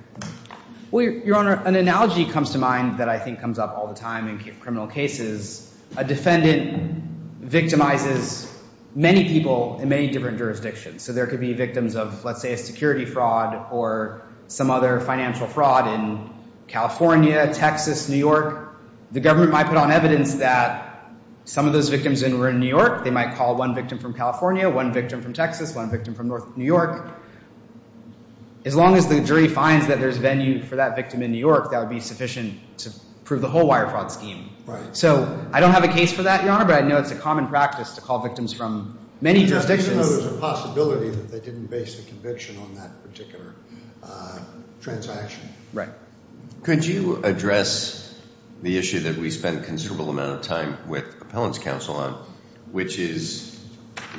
Well, Your Honor, an analogy comes to mind that I think comes up all the time in criminal cases. A defendant victimizes many people in many different jurisdictions. So there could be victims of, let's say, a security fraud or some other financial fraud in California, Texas, New York. The government might put on evidence that some of those victims were in New York. They might call one victim from California, one victim from Texas, one victim from New York. As long as the jury finds that there's venue for that victim in New York, that would be sufficient to prove the whole wire fraud scheme. Right. So I don't have a case for that, Your Honor, but I know it's a common practice to call victims from many jurisdictions. Yeah, even though there's a possibility that they didn't base the conviction on that particular transaction. Right. Could you address the issue that we spend a considerable amount of time with appellants' counsel on, which is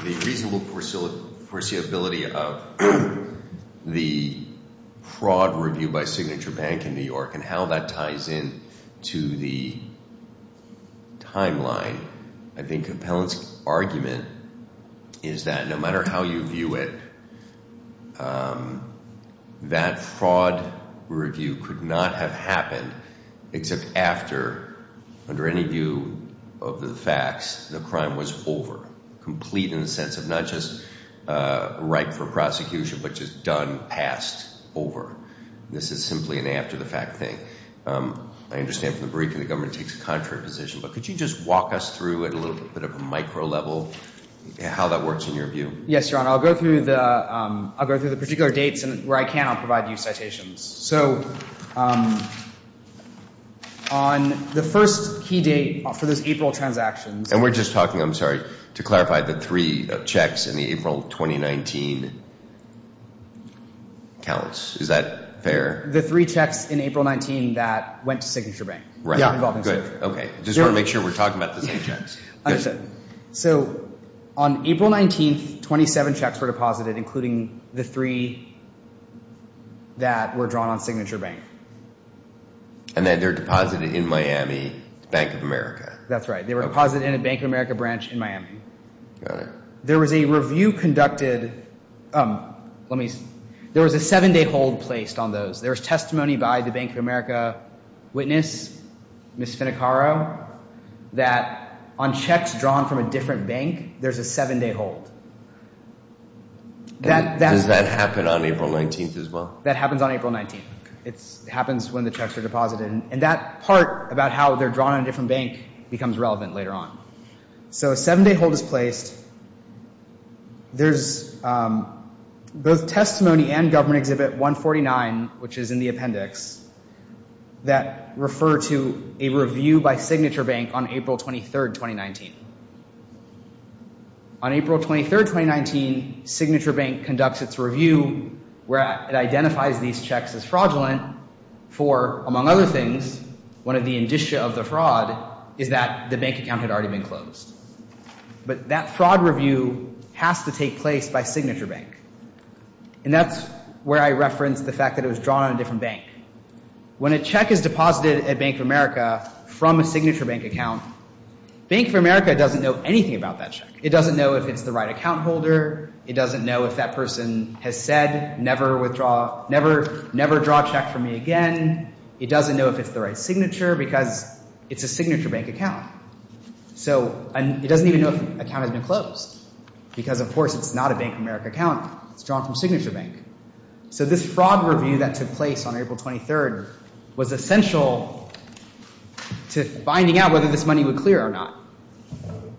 the reasonable foreseeability of the fraud review by Signature Bank in New York and how that ties in to the timeline? I think appellants' argument is that no matter how you view it, that fraud review could not have happened except after, under any view of the facts, the crime was over, complete in the sense of not just ripe for prosecution, but just done, passed, over. This is simply an after-the-fact thing. I understand from the briefing the government takes a contrary position, but could you just walk us through at a little bit of a micro level how that works in your view? Yes, Your Honor. I'll go through the particular dates, and where I can, I'll provide you citations. So, on the first key date for those April transactions— And we're just talking, I'm sorry, to clarify the three checks in the April 2019 counts. Is that fair? The three checks in April 19 that went to Signature Bank. Right. Okay. Just want to make sure we're talking about the same checks. So, on April 19, 27 checks were deposited, including the three that were drawn on Signature Bank. And they were deposited in Miami, Bank of America. That's right. They were deposited in a Bank of America branch in Miami. Got it. There was a review conducted, let me, there was a seven-day hold placed on those. There was testimony by the Bank of America witness, Ms. Finnecaro, that on checks drawn from a different bank, there's a seven-day hold. Does that happen on April 19 as well? That happens on April 19. It happens when the checks are deposited. And that part about how they're drawn on a different bank becomes relevant later on. So, a seven-day hold is placed. There's both testimony and Government Exhibit 149, which is in the appendix, that refer to a review by Signature Bank on April 23, 2019. On April 23, 2019, Signature Bank conducts its review, where it identifies these checks as fraudulent for, among other things, one of the indicia of the fraud is that the bank account had already been closed. But that fraud review has to take place by Signature Bank. And that's where I reference the fact that it was drawn on a different bank. When a check is deposited at Bank of America from a Signature Bank account, Bank of America doesn't know anything about that check. It doesn't know if it's the right account holder. It doesn't know if that person has said, never withdraw, never, never draw a check from me again. It doesn't know if it's the right signature because it's a Signature Bank account. So it doesn't even know if the account has been closed. Because, of course, it's not a Bank of America account. It's drawn from Signature Bank. So this fraud review that took place on April 23 was essential to finding out whether this money would clear or not.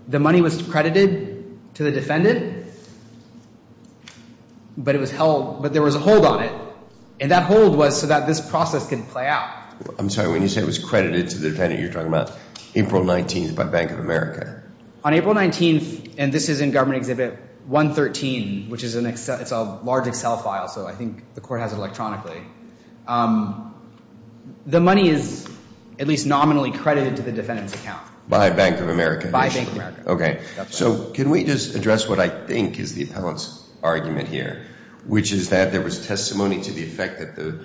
The money was credited to the defendant, but it was held, but there was a hold on it. And that hold was so that this process could play out. I'm sorry, when you say it was credited to the defendant, you're talking about April 19th by Bank of America. On April 19th, and this is in Government Exhibit 113, which is an Excel, it's a large Excel file, so I think the court has it electronically. The money is at least nominally credited to the defendant's account. By Bank of America. By Bank of America. Okay. So can we just address what I think is the appellant's argument here, which is that there was testimony to the effect that the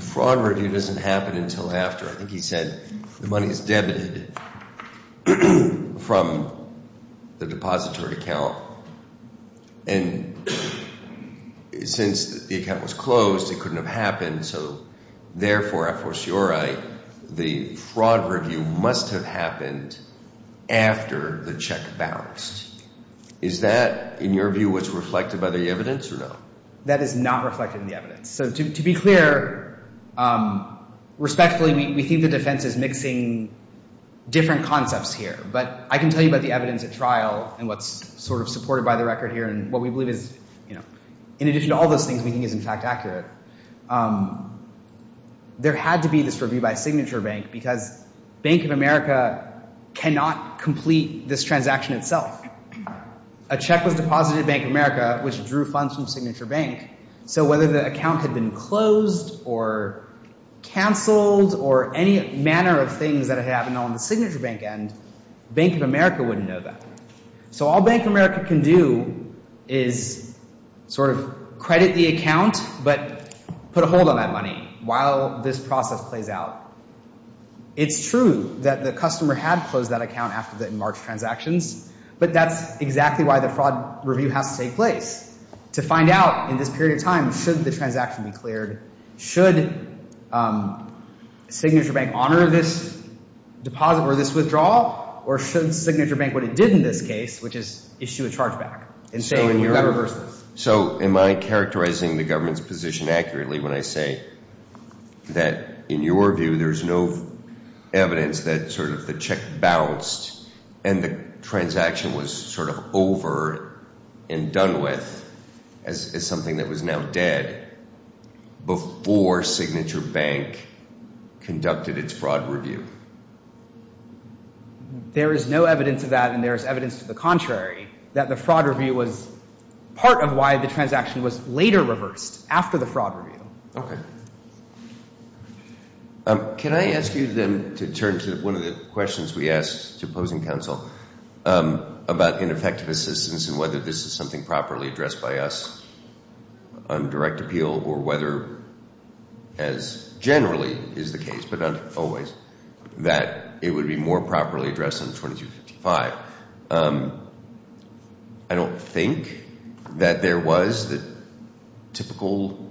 fraud review doesn't happen until after. I think he said the money is debited from the depository account. And since the account was closed, it couldn't have happened. So therefore, a fortiori, the fraud review must have happened after the check bounced. Is that, in your view, what's reflected by the evidence or no? That is not reflected in the evidence. So to be clear, respectfully, we think the defense is mixing different concepts here. But I can tell you about the evidence at trial and what's sort of supported by the record here and what we believe is, you know, in addition to all those things we think is, in fact, accurate, there had to be this review by Signature Bank because Bank of America cannot complete this transaction itself. A check was deposited at Bank of America, which drew funds from Signature Bank. So whether the account had been closed or canceled or any manner of things that had happened on the Signature Bank end, Bank of America wouldn't know that. So all Bank of America can do is sort of credit the account but put a hold on that money while this process plays out. It's true that the customer had closed that account after the March transactions, but that's exactly why the fraud review has to take place to find out, in this period of time, should the transaction be cleared, should Signature Bank honor this deposit or this withdrawal, or should Signature Bank what it did in this case, which is issue a chargeback and say whoever versus. So am I characterizing the government's position accurately when I say that, in your view, there's no evidence that sort of the check bounced and the transaction was sort of over and done with as something that was now dead before Signature Bank conducted its fraud review? There is no evidence of that, and there is evidence to the contrary, that the fraud review was part of why the transaction was later reversed after the fraud review. Okay. Can I ask you then to turn to one of the questions we asked to opposing counsel about ineffective assistance and whether this is something properly addressed by us on direct appeal or whether, as generally is the case, but not always, that it would be more properly addressed on 2255. I don't think that there was the typical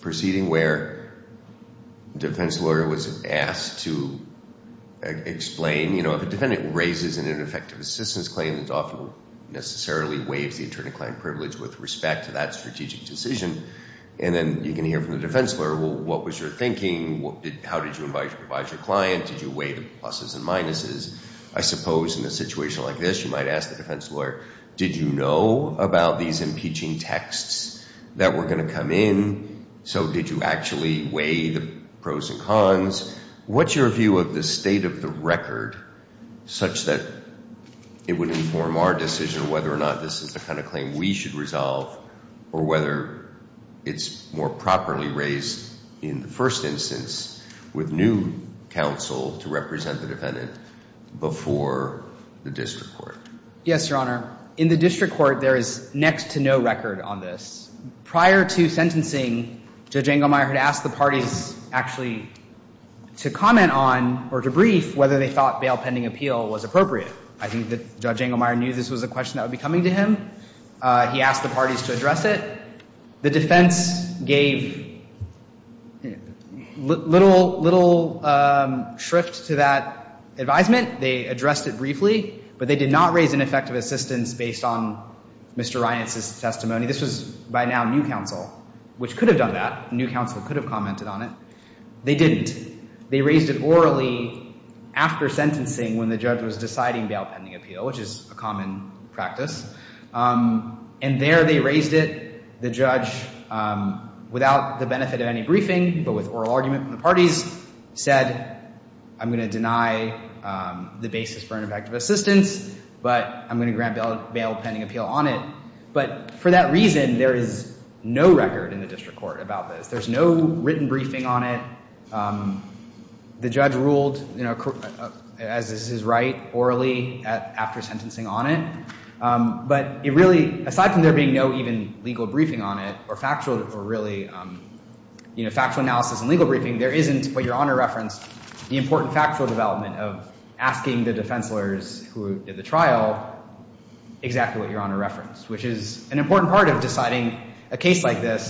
proceeding where a defense lawyer was asked to explain. You know, if a defendant raises an ineffective assistance claim, it often necessarily waives the attorney-client privilege with respect to that strategic decision. And then you can hear from the defense lawyer, well, what was your thinking? How did you advise your client? Did you weigh the pluses and minuses? I suppose in a situation like this, you might ask the defense lawyer, did you know about these impeaching texts that were going to come in? So did you actually weigh the pros and cons? What's your view of the state of the record such that it would inform our decision whether or not this is the kind of claim we should resolve or whether it's more properly raised in the first instance with new counsel to represent the defendant before the district court? Yes, Your Honor. In the district court, there is next to no record on this. Prior to sentencing, Judge Engelmeyer had asked the parties actually to comment on or to brief whether they thought bail pending appeal was appropriate. I think that Judge Engelmeyer knew this was a question that would be coming to him. He asked the parties to address it. The defense gave little, little shrift to that advisement. They addressed it briefly, but they did not raise an effective assistance based on Mr. Reinitz's testimony. This was by now new counsel, which could have done that. New counsel could have commented on it. They didn't. They raised it orally after sentencing when the judge was deciding bail pending appeal, which is a common practice. And there they raised it. The judge, without the benefit of any briefing but with oral argument from the parties, said I'm going to deny the basis for an effective assistance, but I'm going to grant bail pending appeal on it. But for that reason, there is no record in the district court about this. There's no written briefing on it. The judge ruled, as is his right, orally after sentencing on it. But it really, aside from there being no even legal briefing on it or factual analysis and legal briefing, there isn't what Your Honor referenced, the important factual development of asking the defense lawyers who did the trial exactly what Your Honor referenced, which is an important part of deciding a case like this.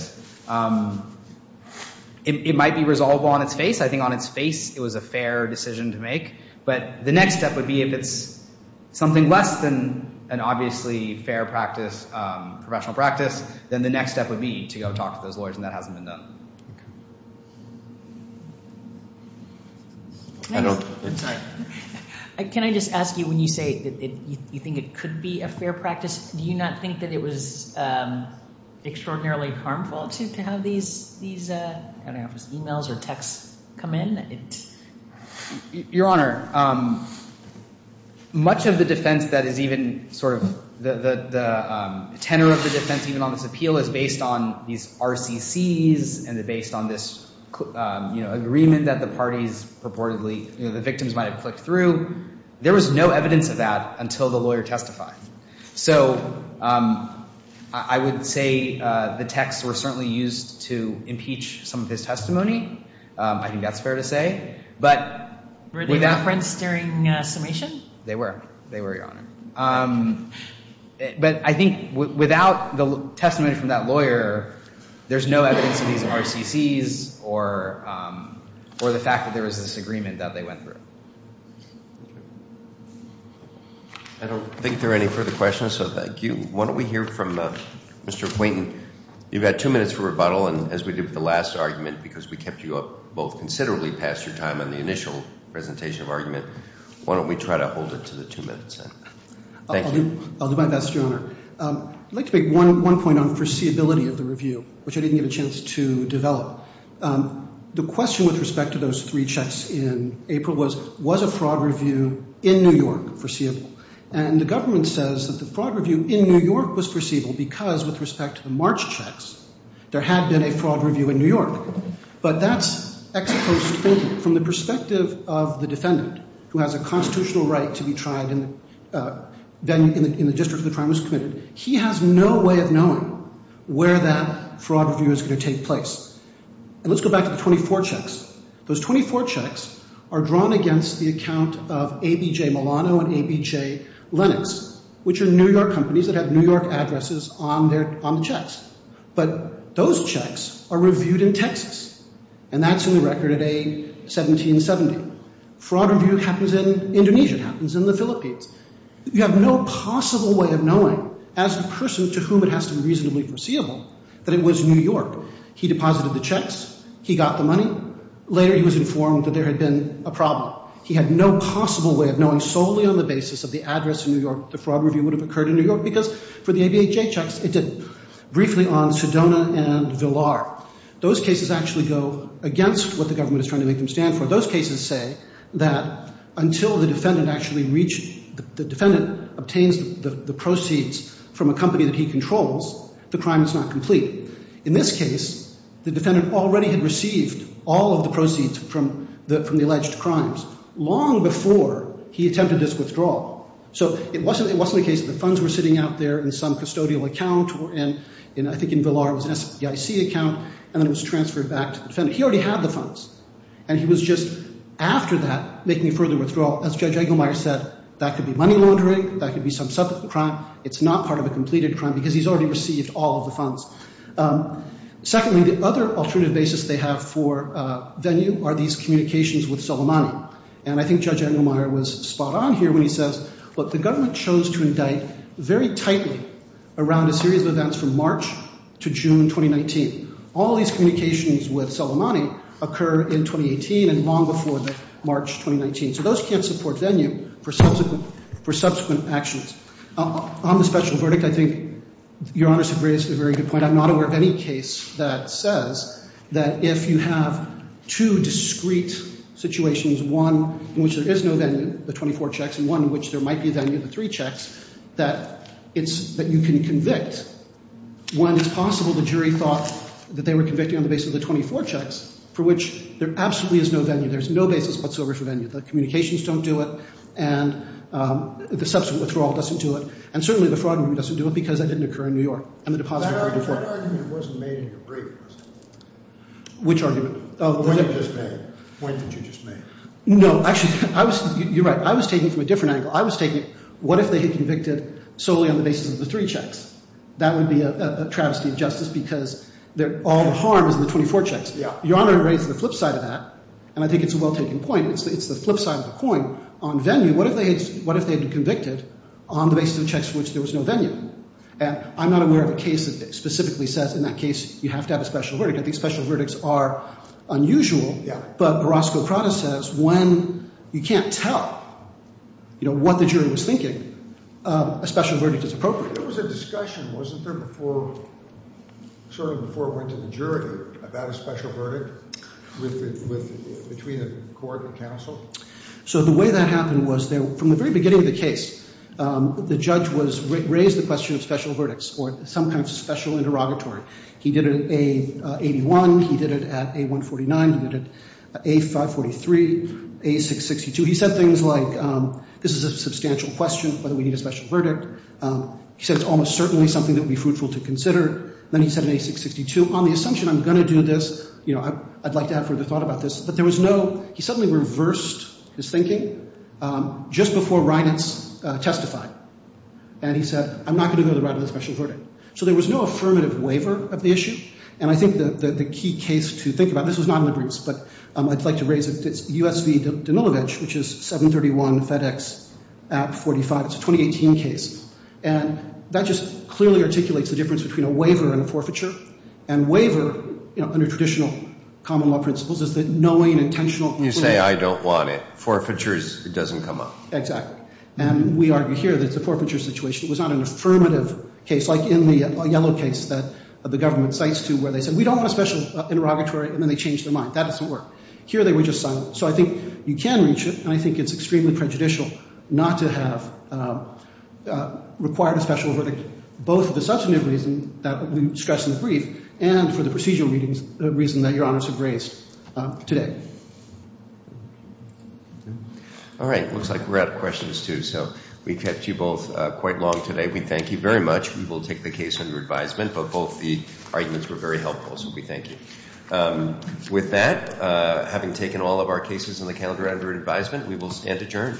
It might be resolvable on its face. I think on its face it was a fair decision to make. But the next step would be if it's something less than an obviously fair practice, professional practice, then the next step would be to go talk to those lawyers, and that hasn't been done. Can I just ask you, when you say you think it could be a fair practice, do you not think that it was extraordinarily harmful to have these e-mails or texts come in? Your Honor, much of the defense that is even sort of the tenor of the defense even on this appeal is based on these RCCs, and they're based on this agreement that the parties purportedly, the victims might have clicked through. There was no evidence of that until the lawyer testified. So I would say the texts were certainly used to impeach some of his testimony. I think that's fair to say. Were they referenced during summation? They were. They were, Your Honor. But I think without the testimony from that lawyer, there's no evidence of these RCCs or the fact that there was this agreement that they went through. I don't think there are any further questions, so thank you. Why don't we hear from Mr. Quainton. You've got two minutes for rebuttal, and as we did with the last argument, because we kept you up both considerably past your time on the initial presentation of argument, why don't we try to hold it to the two minutes then? Thank you. I'll do my best, Your Honor. I'd like to make one point on foreseeability of the review, which I didn't get a chance to develop. The question with respect to those three checks in April was, was a fraud review in New York foreseeable? And the government says that the fraud review in New York was foreseeable because with respect to the March checks, there had been a fraud review in New York. But that's ex-post thinking from the perspective of the defendant, who has a constitutional right to be tried in the district where the crime was committed. He has no way of knowing where that fraud review is going to take place. And let's go back to the 24 checks. Those 24 checks are drawn against the account of ABJ-Milano and ABJ-Lenox, which are New York companies that have New York addresses on the checks. But those checks are reviewed in Texas, and that's in the record at A1770. Fraud review happens in Indonesia. It happens in the Philippines. You have no possible way of knowing, as the person to whom it has to be reasonably foreseeable, that it was New York. He deposited the checks. He got the money. Later, he was informed that there had been a problem. He had no possible way of knowing solely on the basis of the address in New York the fraud review would have occurred in New York because for the ABJ checks, it didn't. Briefly on Sedona and Villar. Those cases actually go against what the government is trying to make them stand for. Those cases say that until the defendant actually reaches, the defendant obtains the proceeds from a company that he controls, the crime is not complete. In this case, the defendant already had received all of the proceeds from the alleged crimes long before he attempted this withdrawal. It wasn't the case that the funds were sitting out there in some custodial account, and I think in Villar it was an SBIC account, and then it was transferred back to the defendant. He already had the funds, and he was just after that making a further withdrawal. As Judge Engelmeyer said, that could be money laundering. That could be some subsequent crime. It's not part of a completed crime because he's already received all of the funds. Secondly, the other alternative basis they have for venue are these communications with Soleimani. And I think Judge Engelmeyer was spot on here when he says, look, the government chose to indict very tightly around a series of events from March to June 2019. All of these communications with Soleimani occur in 2018 and long before the March 2019. So those can't support venue for subsequent actions. On the special verdict, I think Your Honor has raised a very good point. And I'm not aware of any case that says that if you have two discreet situations, one in which there is no venue, the 24 checks, and one in which there might be venue, the three checks, that you can convict when it's possible the jury thought that they were convicting on the basis of the 24 checks, for which there absolutely is no venue. There's no basis whatsoever for venue. The communications don't do it, and the subsequent withdrawal doesn't do it, and certainly the fraud doesn't do it because that didn't occur in New York, and the deposit didn't occur in New York. That argument wasn't made in your brief, was it? Which argument? The one that you just made. No, actually, you're right. I was taking it from a different angle. I was taking it, what if they had convicted solely on the basis of the three checks? That would be a travesty of justice because all the harm is in the 24 checks. Your Honor raised the flip side of that, and I think it's a well-taken point. It's the flip side of the coin. On venue, what if they had been convicted on the basis of the checks for which there was no venue? I'm not aware of a case that specifically says in that case you have to have a special verdict. I think special verdicts are unusual, but Orozco-Prada says when you can't tell what the jury was thinking, a special verdict is appropriate. There was a discussion, wasn't there, before it went to the jury about a special verdict between the court and counsel? So the way that happened was from the very beginning of the case, the judge raised the question of special verdicts or some kind of special interrogatory. He did it at A81. He did it at A149. He did it at A543, A662. He said things like this is a substantial question, but we need a special verdict. He said it's almost certainly something that would be fruitful to consider. Then he said in A662, on the assumption I'm going to do this, I'd like to have further thought about this. But there was no—he suddenly reversed his thinking just before Reinitz testified. And he said I'm not going to go to the right with a special verdict. So there was no affirmative waiver of the issue. And I think the key case to think about—this was not in the briefs, but I'd like to raise it. It's U.S. v. Danilovich, which is 731 FedEx at 45. It's a 2018 case. And that just clearly articulates the difference between a waiver and a forfeiture. And waiver, you know, under traditional common law principles, is that knowing intentional— You say I don't want it. Forfeiture is—it doesn't come up. Exactly. And we argue here that it's a forfeiture situation. It was not an affirmative case like in the yellow case that the government cites, too, where they said we don't want a special interrogatory, and then they changed their mind. That doesn't work. Here they were just silent. So I think you can reach it, and I think it's extremely prejudicial not to have required a special verdict. Both for the substantive reason that we discussed in the brief, and for the procedural reason that Your Honors have raised today. All right. Looks like we're out of questions, too, so we've kept you both quite long today. We thank you very much. We will take the case under advisement, but both the arguments were very helpful, so we thank you. With that, having taken all of our cases in the calendar under advisement, we will stand adjourned.